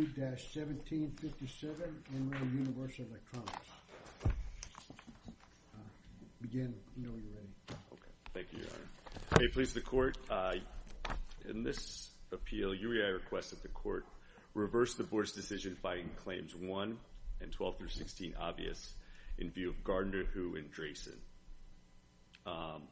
Thank you, Your Honor. May it please the Court, in this appeal, UEI requests that the Court reverse the Board's decision finding Claims 1 and 12-16 obvious in view of Gardner, Who, and Dresen. I'm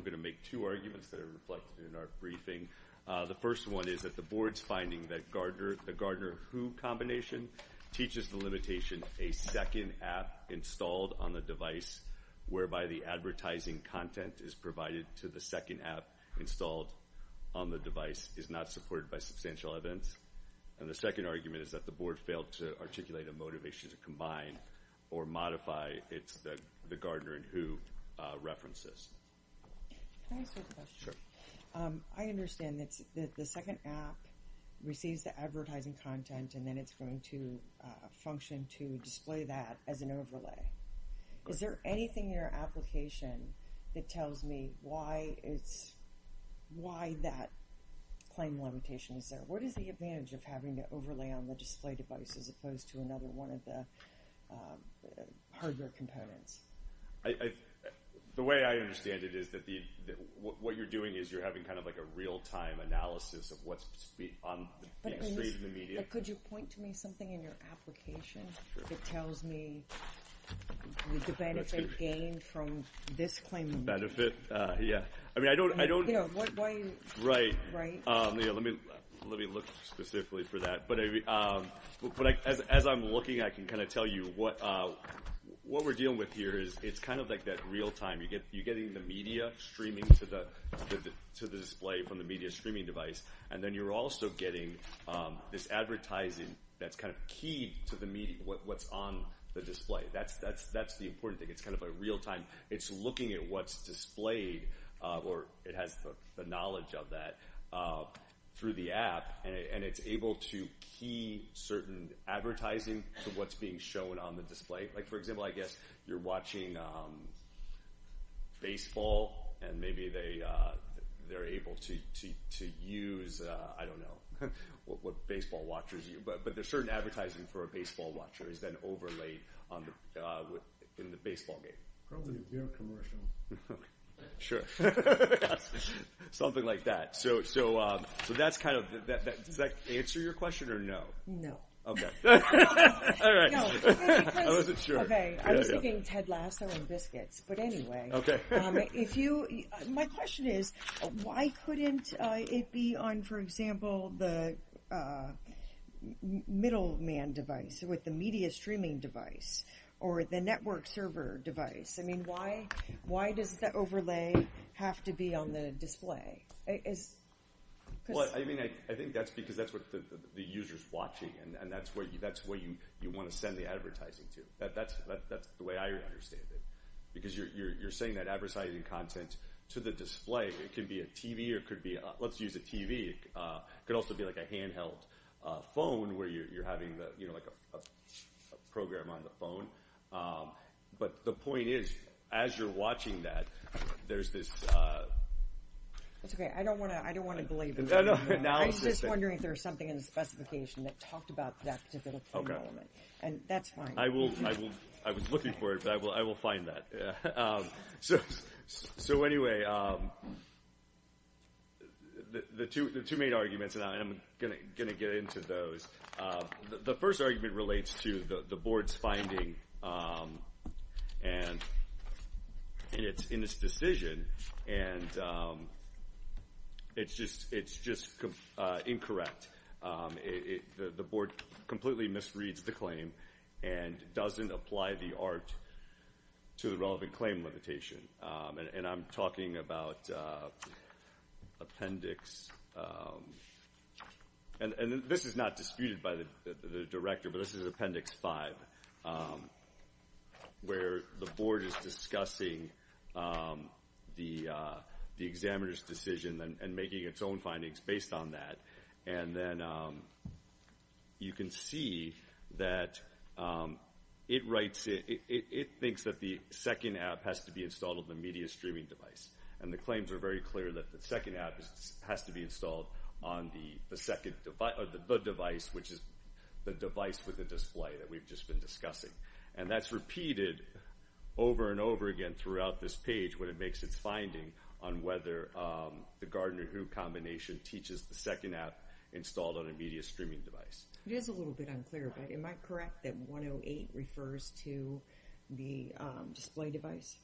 going to make two arguments that are reflected in our briefing. The first one is that the Board's finding that the Gardner, Who combination teaches the limitation a second app installed on the device whereby the advertising content is provided to the second app installed on the device is not supported by substantial evidence. And the second argument is that the Board failed to articulate a motivation to combine or modify Gardner and Who references. I understand that the second app receives the advertising content and then it's going to function to display that as an overlay. Is there anything in your application that tells me why that claim limitation is there? What is the advantage of having to The way I understand it is that what you're doing is you're having kind of like a real-time analysis of what's on the street in the media. But could you point to me something in your application that tells me the benefit gained from this claim? Benefit? Yeah. I mean, I don't, I don't, right. Let me look specifically for that. But as I'm looking, I can kind of tell you what, what we're dealing with here is it's kind of like that real-time. You get, you're getting the media streaming to the, to the display from the media streaming device. And then you're also getting this advertising that's kind of keyed to the media, what's on the display. That's, that's, that's the important thing. It's kind of a real-time. It's looking at what's displayed or it has the knowledge of that through the app and it's able to key certain advertising to what's being shown on the display. Like for example, I guess you're watching baseball and maybe they, they're able to, to, to use, I don't know what, what baseball watchers you, but, but there's certain advertising for a baseball watcher is then overlaid on the, in the baseball game. Probably a beer commercial. Sure. Something like that. So, so, so that's kind of, does that answer your question or no? No. Okay. All right. I wasn't sure. Okay. I was thinking Ted Lasso and biscuits, but anyway, if you, my question is why couldn't it be on, for example, the middleman device with the media streaming device or the network server device? I mean, why does the overlay have to be on the display? Well, I mean, I, I think that's because that's what the user's watching and that's where you, that's where you, you want to send the advertising to. That, that's, that's the way I understand it. Because you're, you're, you're saying that advertising content to the display, it can be a TV or it could be, let's use a TV. It could also be like a handheld phone where you're having the, you know, like a program on the phone. Um, but the point is, as you're watching that, there's this, uh, that's okay. I don't want to, I don't want to believe that. I was just wondering if there was something in the specification that talked about that particular element and that's fine. I will, I will, I was looking for it, but I will, I will find that. Yeah. Um, so, so anyway, um, the, the two, the two main arguments and I'm going to, going to get into those. Um, the, the first argument relates to the, the board's finding, um, and in its, in its decision and, um, it's just, it's just, uh, incorrect. Um, it, it, the, the board completely misreads the claim and doesn't apply the art to the relevant claim limitation. Um, and, and I'm talking about, uh, appendix, um, and, and this is not disputed by the, the, the director, but this is appendix five, um, where the board is discussing, um, the, uh, the examiner's decision and making its own findings based on that. And then, um, you can see that, um, it writes it, it, it thinks that the second app has to be installed with the media streaming device. And the claims are very clear that the second app has to be installed on the second device or the device, which is the device with the display that we've just been discussing. And that's repeated over and over again throughout this page when it makes its finding on whether, um, the Gardner-Hugh combination teaches the second app installed on a media streaming device. It is a little bit unclear, but am I correct that 108 refers to the, um, display device?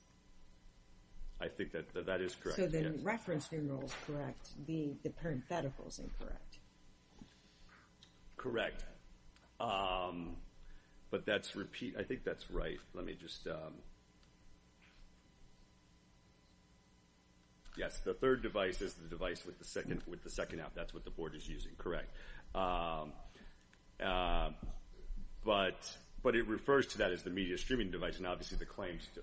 I think that, that is correct. So the reference numerals correct, the, the parentheticals incorrect. Correct. Um, but that's repeat, I think that's right. Let me just, um, yes, the third device is the device with the second, with the second app. That's what the board is using. Correct. Um, uh, but, but it refers to that as the media streaming device. And obviously the claims to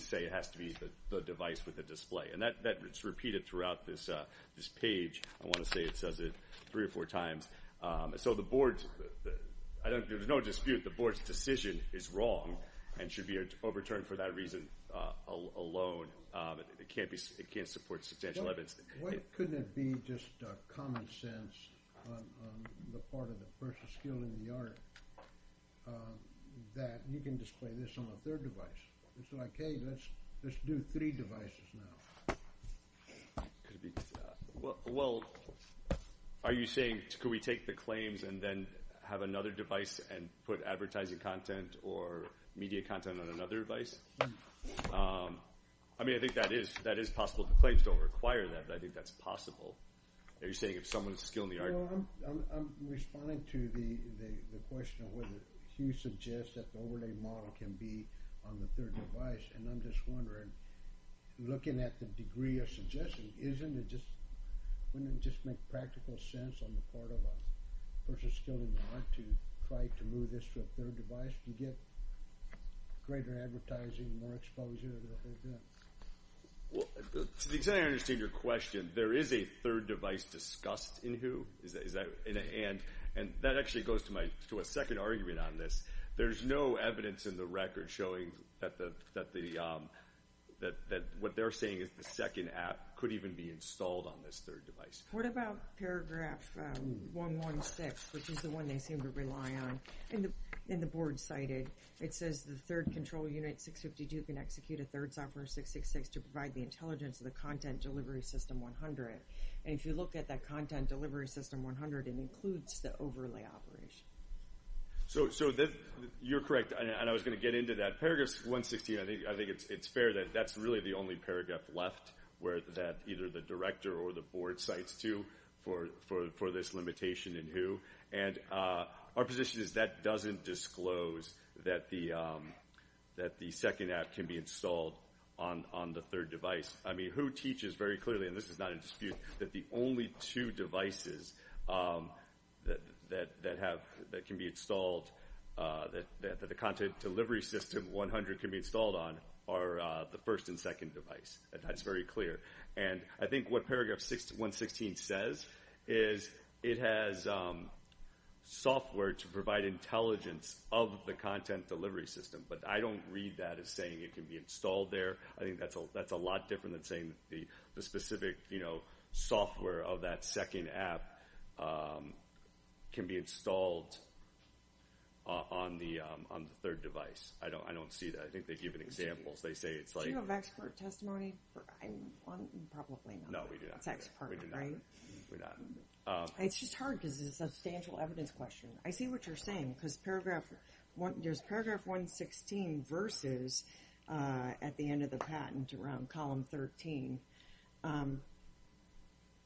say it has to be the device with the display and that, that it's repeated throughout this, uh, this page. I want to say it says it three or four times. Um, there was no dispute. The board's decision is wrong and should be overturned for that reason, uh, alone. Um, it can't be, it can't support substantial evidence. Why couldn't it be just, uh, common sense on, on the part of the first skill in the art, um, that you can display this on a third device? It's like, hey, let's, let's do three devices now. Well, well, are you saying could we take the claims and then have another device and put advertising content or media content on another device? Um, I mean, I think that is, that is possible. The claims don't require that, but I think that's possible. Are you saying if someone's skill in the art? No, I'm, I'm, I'm responding to the, the, the question of whether Hugh suggests that the overlay model can be on the third device. And I'm just wondering, looking at the degree of suggestion, isn't it just, wouldn't it just make practical sense on the part of a person skilled in the art to try to move this to a third device to get greater advertising, more exposure to what they're doing? Well, to the extent I understand your question, there is a third device discussed in Hugh. Is that, is that, and, and that actually goes to my, to a second argument on this. There's no evidence in the record showing that the, that the, um, that, that what they're saying is the second app could even be installed on this third device. What about paragraph, um, 116, which is the one they seem to rely on? In the, in the board cited, it says the third control unit 652 can execute a third software 666 to provide the intelligence of the content delivery system 100. And if you look at that content delivery system 100, it includes the overlay operation. So, so you're correct. And I was going to get into that. Paragraph 116, I think, I think it's, it's fair that that's really the only paragraph left where that either the director or the board sites to for, for, for this limitation in who and, uh, our position is that doesn't disclose that the, um, that the second app can be installed on, on the third device. I mean, who teaches very clearly, and this is not in dispute that the only two devices, um, that, that, that have, that can be installed, uh, that, that, that the content delivery system 100 can be installed on are, uh, the first and second device. That's very clear. And I think what paragraph 6, 116 says is it has, um, software to provide intelligence of the content delivery system. But I don't read that as saying it can be installed there. I think that's, that's a lot different than saying the, the specific, you know, software of that second app, um, can be installed on the, um, on the third device. I don't, I don't see that. I think they give an example. They say it's like... Do you have expert testimony? Probably not. No, we do not. It's expert, right? We're not. It's just hard because it's a substantial evidence question. I see what you're saying because paragraph one, there's paragraph 116 versus, uh, at the end of the patent around column 13, um,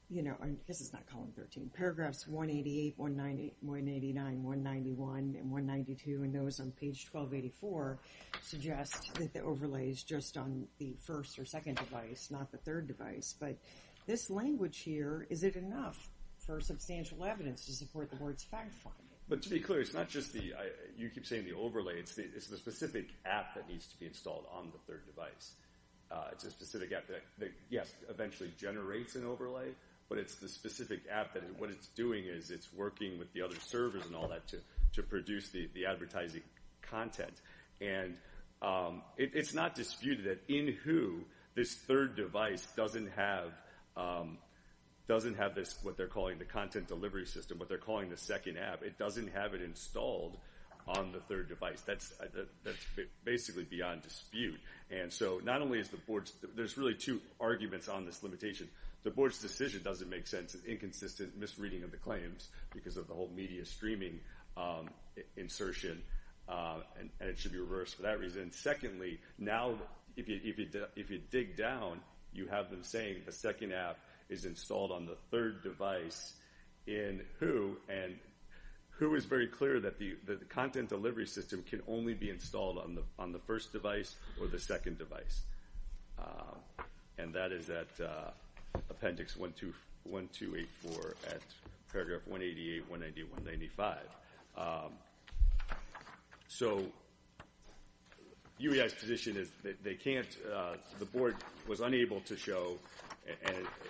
you know, and this is not column 13. Paragraphs 188, 190, 189, 191, and 192 and those on page 1284 suggest that the overlay is just on the first or second device, not the third device. But this language here, is it enough for substantial evidence to support the board's fact-finding? But to be clear, it's not just the, I, you keep saying the overlay, it's the, it's the specific app that needs to be installed on the third device. Uh, it's a specific app that, yes, eventually generates an overlay, but it's the specific app that what it's doing is it's working with the other servers and all that to, to produce the, the advertising content. And, um, it, it's not disputed that in Who, this third device doesn't have, um, doesn't have this, what they're calling the second app. It doesn't have it installed on the third device. That's, that's basically beyond dispute. And so not only is the board's, there's really two arguments on this limitation. The board's decision doesn't make sense, an inconsistent misreading of the claims because of the whole media streaming, um, insertion, uh, and, and it should be reversed for that reason. Secondly, now, if you, if you, if you dig down, you have them saying a second app is installed on the third device in Who and Who is very clear that the, that the content delivery system can only be installed on the, on the first device or the second device. Um, and that is at, uh, appendix 12, 1284 at paragraph 188, 190, 195. Um, so UEI's position is that they can't, uh, the board was unable to show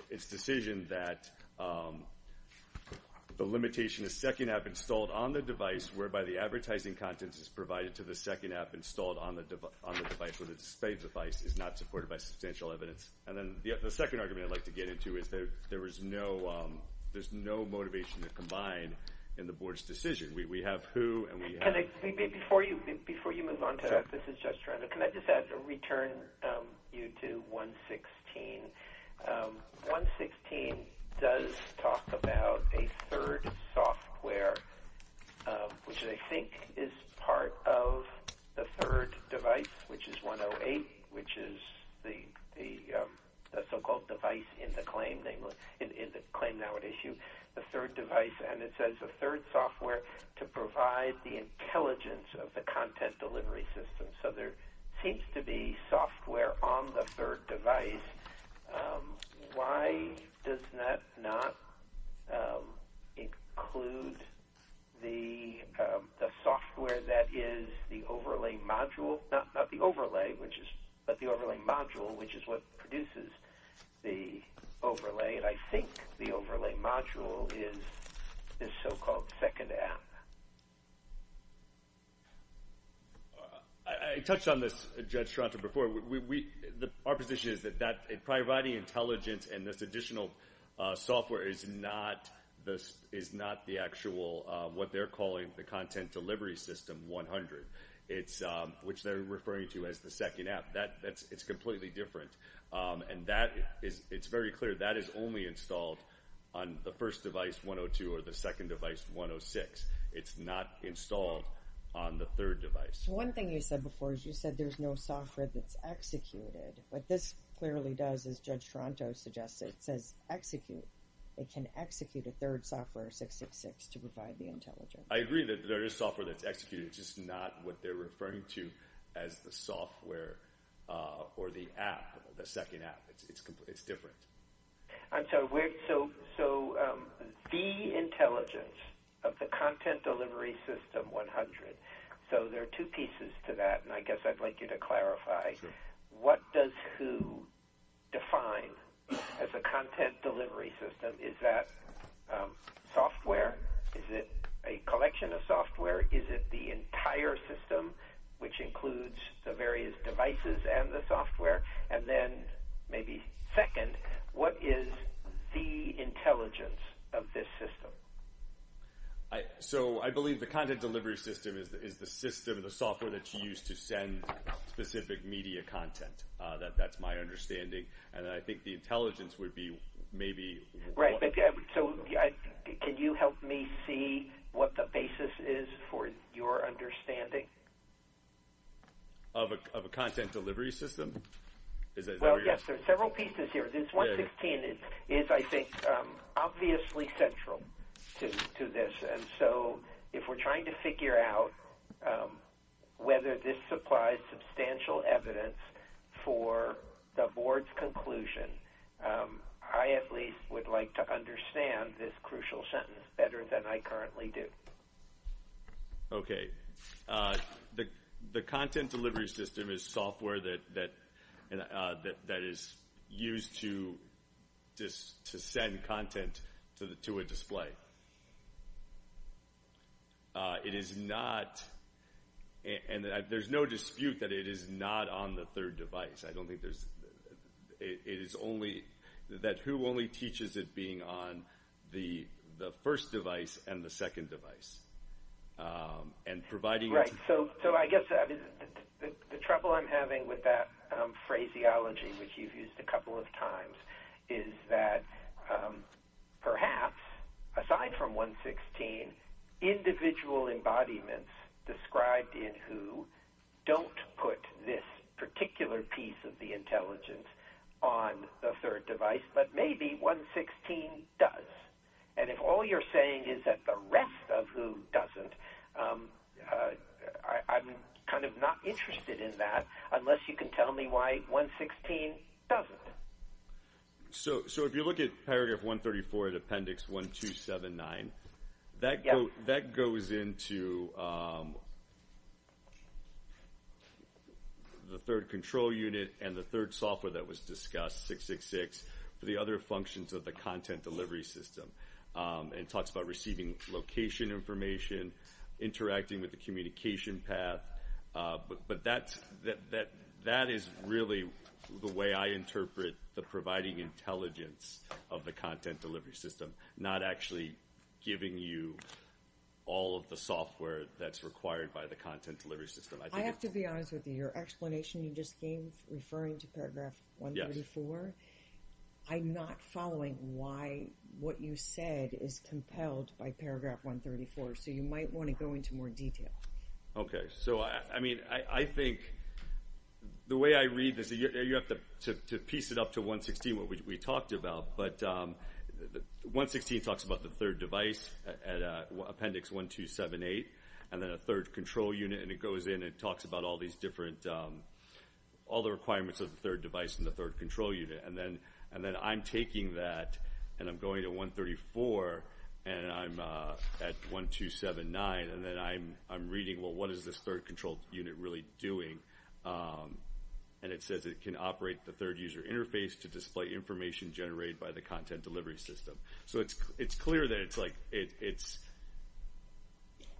its decision that, um, the limitation is second app installed on the device whereby the advertising content is provided to the second app installed on the, on the device where the displayed device is not supported by substantial evidence. And then the second argument I'd like to get into is that there was no, um, there's no motivation to combine in the board's decision. We, we have Who and we have... 116. Um, 116 does talk about a third software, um, which I think is part of the third device, which is 108, which is the, the, um, the so-called device in the claim, namely in the claim now at issue, the third device. And it says the third software to provide the intelligence of the third device. Um, why does that not, um, include the, um, the software that is the overlay module, not, not the overlay, which is, but the overlay module, which is what produces the overlay. And I think the overlay module is this so-called second app. Uh, I, I touched on this, Judge Strata, before we, we, the, our position is that, that providing intelligence and this additional, uh, software is not the, is not the actual, uh, what they're calling the content delivery system 100. It's, um, which they're referring to as the second app. That, that's, it's completely different. Um, and that is, it's very clear that is only installed on the first device 102 or the second device 106. It's not installed on the third device. One thing you said before, as you said, there's no software that's executed, but this clearly does, as Judge Toronto suggested, it says execute, it can execute a third software 666 to provide the intelligence. I agree that there is software that's executed, just not what they're referring to as the software, uh, or the app, the second app. It's completely, it's different. I'm sorry. So, so, um, the intelligence of the content delivery system 100. So there are two pieces to that. And I guess I'd like you to clarify what does who define as a content delivery system? Is that, um, software? Is it a collection of software? Is it the entire system, which includes the various devices and the software, and then maybe second, what is the intelligence of this system? I, so I believe the content delivery system is, is the system, the software that you use to send specific media content. Uh, that, that's my understanding. And I think the intelligence would be maybe right. So can you help me see what the basis is for your understanding of a, of a content delivery system? Well, yes, there are several pieces here. This 116 is, is I think, um, obviously central to, to this. And so if we're trying to figure out, um, whether this supplies substantial evidence for the board's conclusion, um, I at least would like to understand this crucial sentence better than I currently do. Okay. Uh, the, the content delivery system is software that, that, uh, that, that is used to, just to send content to the, to a display. Uh, it is not, and there's no dispute that it is not on the third device. I don't think there's, it is only that who only teaches it being on the, the first device and the second device, um, and providing... Right. So, so I guess the trouble I'm having with that, um, phraseology, which you've used a couple of times is that, um, perhaps aside from 116, individual embodiments described in WHO don't put this particular piece of the intelligence on the third device, but maybe 116 does. And if all you're saying is that the rest of WHO doesn't, um, uh, I, I'm kind of not interested in that unless you can tell me why 116 doesn't. So, so if you look at paragraph 134 of appendix 1279, that goes, that goes into, um, the third control unit and the third software that was and talks about receiving location information, interacting with the communication path. Uh, but, but that's, that, that, that is really the way I interpret the providing intelligence of the content delivery system, not actually giving you all of the software that's required by the content delivery system. I have to be honest with you, your explanation you just gave referring to paragraph 134, I'm not following why what you said is compelled by paragraph 134. So you might want to go into more detail. Okay. So I, I mean, I, I think the way I read this, you have to piece it up to 116, what we talked about, but, um, 116 talks about the third device at appendix 1278 and then a third control unit. And it goes in and it talks about all these different, um, all the requirements of the third device and the third control unit. And then, and then I'm taking that and I'm going to 134 and I'm, uh, at 1279 and then I'm, I'm reading, well, what is this third control unit really doing? Um, and it says it can operate the third user interface to display information generated by the content delivery system. So it's, it's clear that it's like, it's.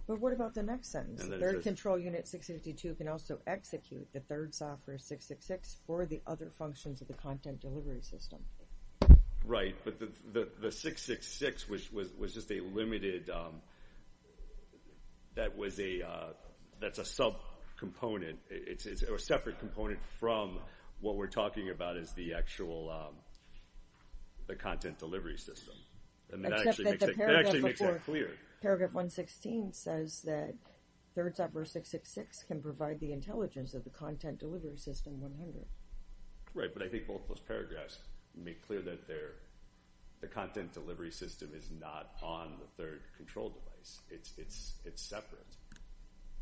But what about the next sentence? Third control unit 652 can also execute the third software 666 for the other functions of the content delivery system. Right. But the, the, the 666, which was, was, was just a limited, um, that was a, uh, that's a sub component. It's a separate component from what we're talking about is the actual, um, the content delivery system. And that actually makes it clear. Paragraph 116 says that third software 666 can provide the intelligence of the content delivery system 100. Right. But I think both of those paragraphs make clear that they're, the content delivery system is not on the third control device. It's, it's, it's separate.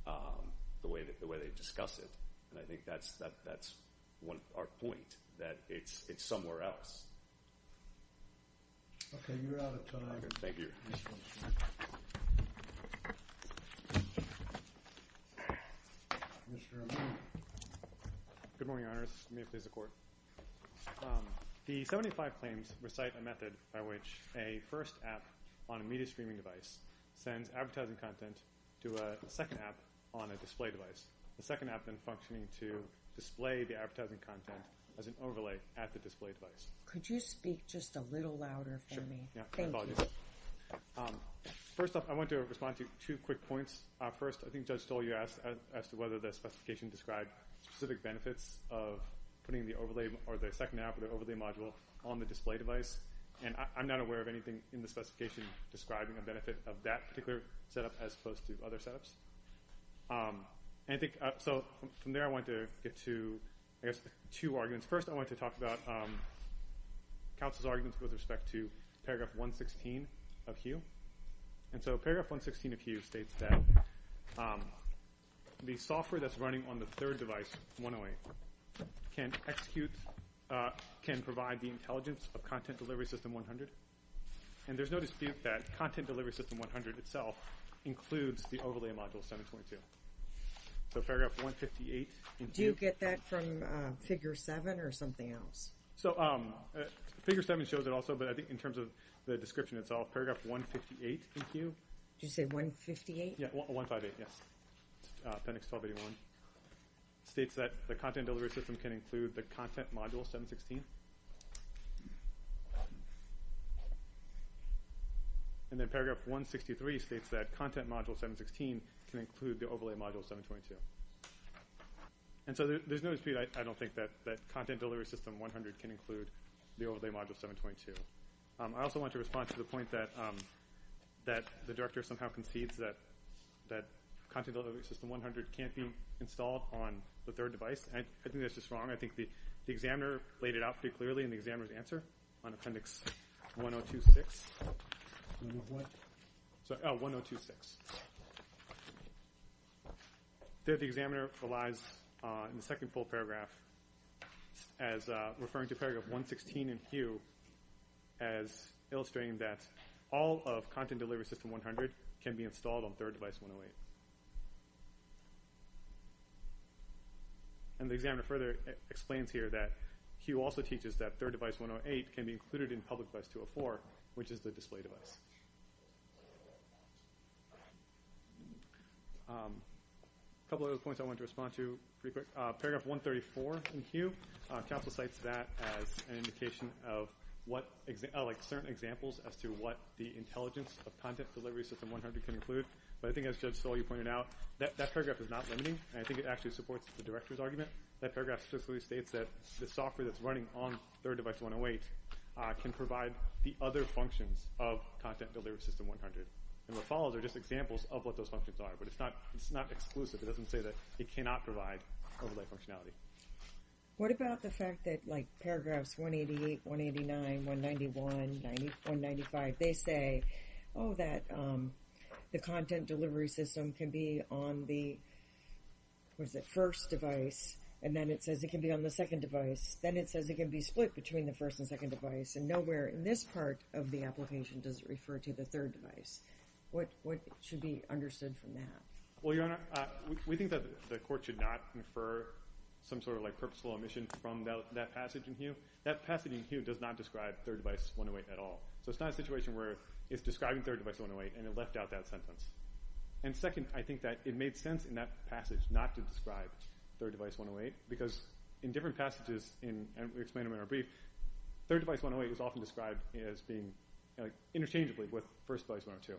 Um, the way that, the way they discuss it. And I think that's, that, that's one, our point that it's, it's somewhere else. Okay. You're out of time. Thank you. Good morning, your honors. May it please the court. Um, the 75 claims recite a method by which a first app on a media streaming device sends advertising content to a second app on a display device. The second app then functioning to display the advertising content as an overlay at the display device. Could you speak just a little louder for me? Yeah. Um, first off, I want to respond to two quick points. Uh, first, I think Judge Stoll, you asked as to whether the specification described specific benefits of putting the overlay or the second app or the overlay module on the display device. And I'm not aware of anything in the specification describing a benefit of that particular setup as opposed to other setups. Um, and I think, so from there I want to get to, I guess, two arguments. First, I want to talk about, um, counsel's arguments with respect to paragraph 116 of HUE. And so paragraph 116 of HUE states that, um, the software that's running on the third device, 108, can execute, uh, can provide the that content delivery system 100 itself includes the overlay module 722. So paragraph 158 in HUE. Do you get that from, uh, figure 7 or something else? So, um, figure 7 shows it also, but I think in terms of the description itself, paragraph 158 in HUE. Did you say 158? Yeah, 158, yes. Appendix 1281 states that the content delivery system can include the content module 716. And then paragraph 163 states that content module 716 can include the overlay module 722. And so there's no dispute, I don't think that that content delivery system 100 can include the overlay module 722. I also want to respond to the point that, um, that the director somehow concedes that that content delivery system 100 can't be installed on the third device. I think that's just wrong. I think the examiner laid it out pretty clearly in the examiner's answer on appendix 1026. What? Oh, 1026. There the examiner relies on the second full paragraph as, uh, referring to paragraph 116 in HUE as illustrating that all of content delivery system 100 can be installed on third device 108. And the examiner further explains here that HUE also teaches that third device 108 can be included in public device 204, which is the display device. A couple of other points I want to respond to pretty quick. Paragraph 134 in HUE, uh, council cites that as an indication of what, uh, like certain examples as to what the intelligence of content delivery system 100 can include. But I think as Judge Stoll has pointed out, that paragraph is not limiting, and I think it actually supports the director's argument. That paragraph specifically states that the software that's running on third device 108, uh, can provide the other functions of content delivery system 100. And what follows are just examples of what those functions are, but it's not, it's not exclusive. It doesn't say that it cannot provide overlay functionality. What about the fact that, like, paragraphs 188, 189, 191, 195, they say, oh, that, um, the content delivery system can be on the, what is it, first device, and then it says it can be on the second device. Then it says it can be split between the first and second device, and nowhere in this part of the application does it refer to the third device. What, what should be understood from that? Well, Your Honor, uh, we think that the court should not infer some sort of, like, purposeful omission from that, that passage in here does not describe third device 108 at all. So it's not a situation where it's describing third device 108, and it left out that sentence. And second, I think that it made sense in that passage not to describe third device 108, because in different passages in, and we explained them in our brief, third device 108 is often described as being, like, interchangeably with first device 102.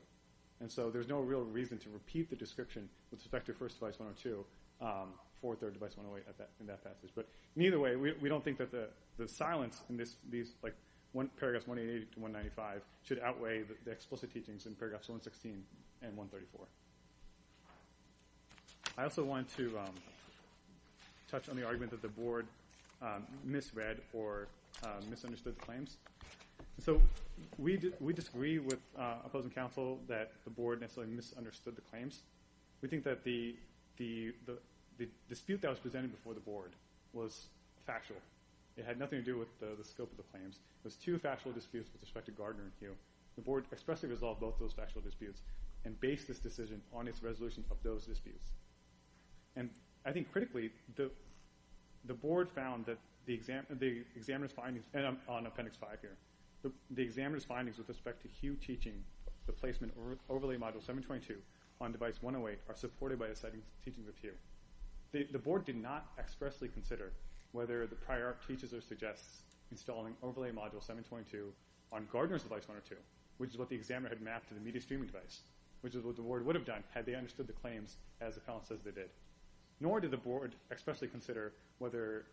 And so there's no real reason to repeat the description with respect to first device 102, um, for third device 108 at that, in that passage. But either way, we, these, like, paragraphs 188 to 195 should outweigh the explicit teachings in paragraphs 116 and 134. I also wanted to, um, touch on the argument that the Board, um, misread or, um, misunderstood the claims. So we, we disagree with, uh, opposing counsel that the Board necessarily misunderstood the claims. We think that the, the, the dispute that was presented before the Board was factual. It had nothing to do with the scope of the claims. It was two factual disputes with respect to Gardner and Hugh. The Board expressly resolved both those factual disputes and based this decision on its resolution of those disputes. And I think critically, the, the Board found that the exam, the examiner's findings, and I'm on appendix five here, the examiner's findings with respect to Hugh teaching the placement overlay module 722 on device 108 are supported by the settings teaching with Hugh. The, the Board did not expressly consider whether the prior teaches or suggests installing overlay module 722 on Gardner's device 102, which is what the examiner had mapped to the media streaming device, which is what the Board would have done had they understood the claims as the appellant says they did. Nor did the Board expressly consider whether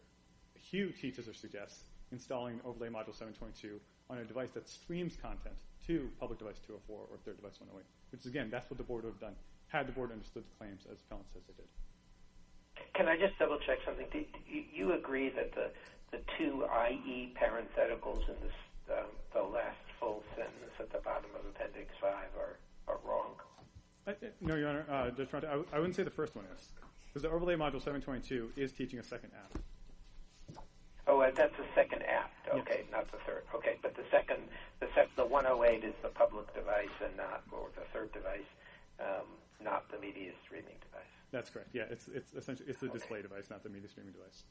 Hugh teaches or suggests installing overlay module 722 on a device that streams content to public device 204 or third device 108, which again, that's what the Board would have done had the Board understood the claims as the appellant says they did. Can I just double check something? Do you agree that the, the two IE parentheticals in this, the last full sentence at the bottom of appendix five are, are wrong? No, Your Honor. I wouldn't say the first one is. Because the overlay module 722 is teaching a second app. Oh, that's the second app. Okay. Not the third. Okay. But the second, the second, the 108 is the public device and not, or the third device, not the media streaming device. That's correct. Yeah. It's, it's essentially, it's the display device, not the media streaming device.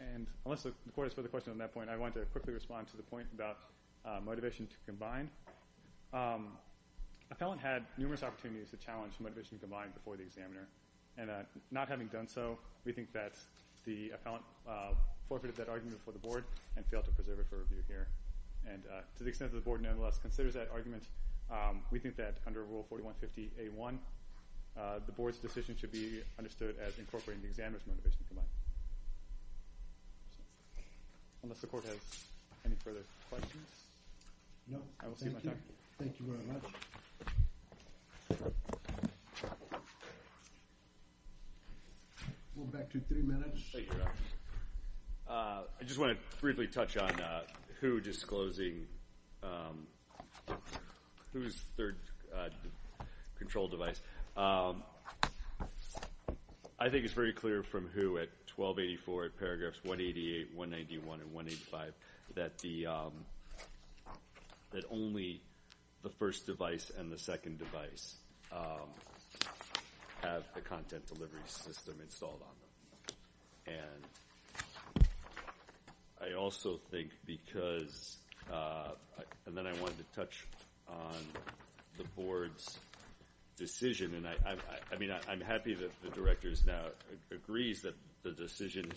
And unless the Court has further questions on that point, I want to quickly respond to the point about motivation to combine. Appellant had numerous opportunities to challenge motivation to combine before the examiner. And not having done so, we think that the appellant forfeited that argument before the Board and failed to preserve it for review here. And to the extent that the Board nonetheless considers that argument, we think that under Rule 4150A1, the Board's decision should be understood as incorporating the examiner's motivation to combine. Unless the Court has any further questions. No. I will see you in my time. Thank you. Thank you very much. We'll go back to three minutes. I just want to briefly touch on who disclosing who's third control device. I think it's very clear from who at 1284 at paragraphs 188, 191, and 185 that the, that only the first device and the second device have the content delivery system installed on them. And I also think because, and then I wanted to touch on the Board's decision. And I, I mean, I'm happy that the Director's now agrees that the decision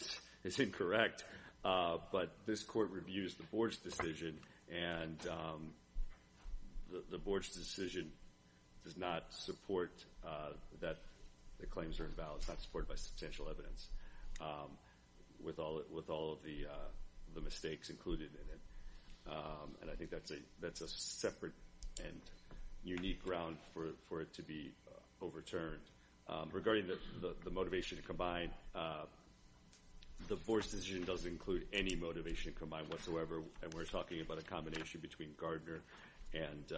is incorrect. But this Court reviews the Board's decision and the Board's decision does not support that the claims are in balance, not supported by substantial evidence, with all, with all of the mistakes included in it. And I think that's a, that's a separate and to be overturned. Regarding the motivation to combine, the Board's decision doesn't include any motivation to combine whatsoever. And we're talking about a combination between Gardner and,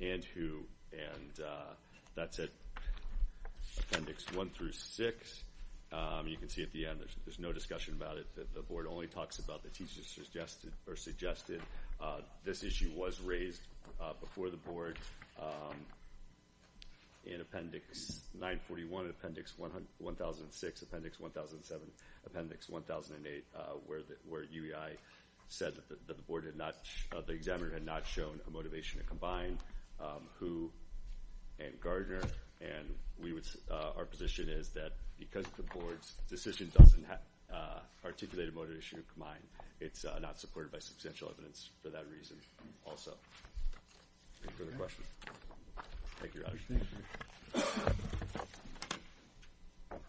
and who, and that's at appendix one through six. You can see at the end, there's no discussion about it. The Board only talks about the teachers suggested, or suggested. This issue was raised before the Board in appendix 941, appendix 100, 1006, appendix 1007, appendix 1008, where the, where UEI said that the Board had not, the examiner had not shown a motivation to combine who and Gardner. And we would, our position is that because the Board's decision doesn't articulate a motivation to combine, it's not supported by substantial evidence for that reason also. Any further questions? Thank you, Your Honor.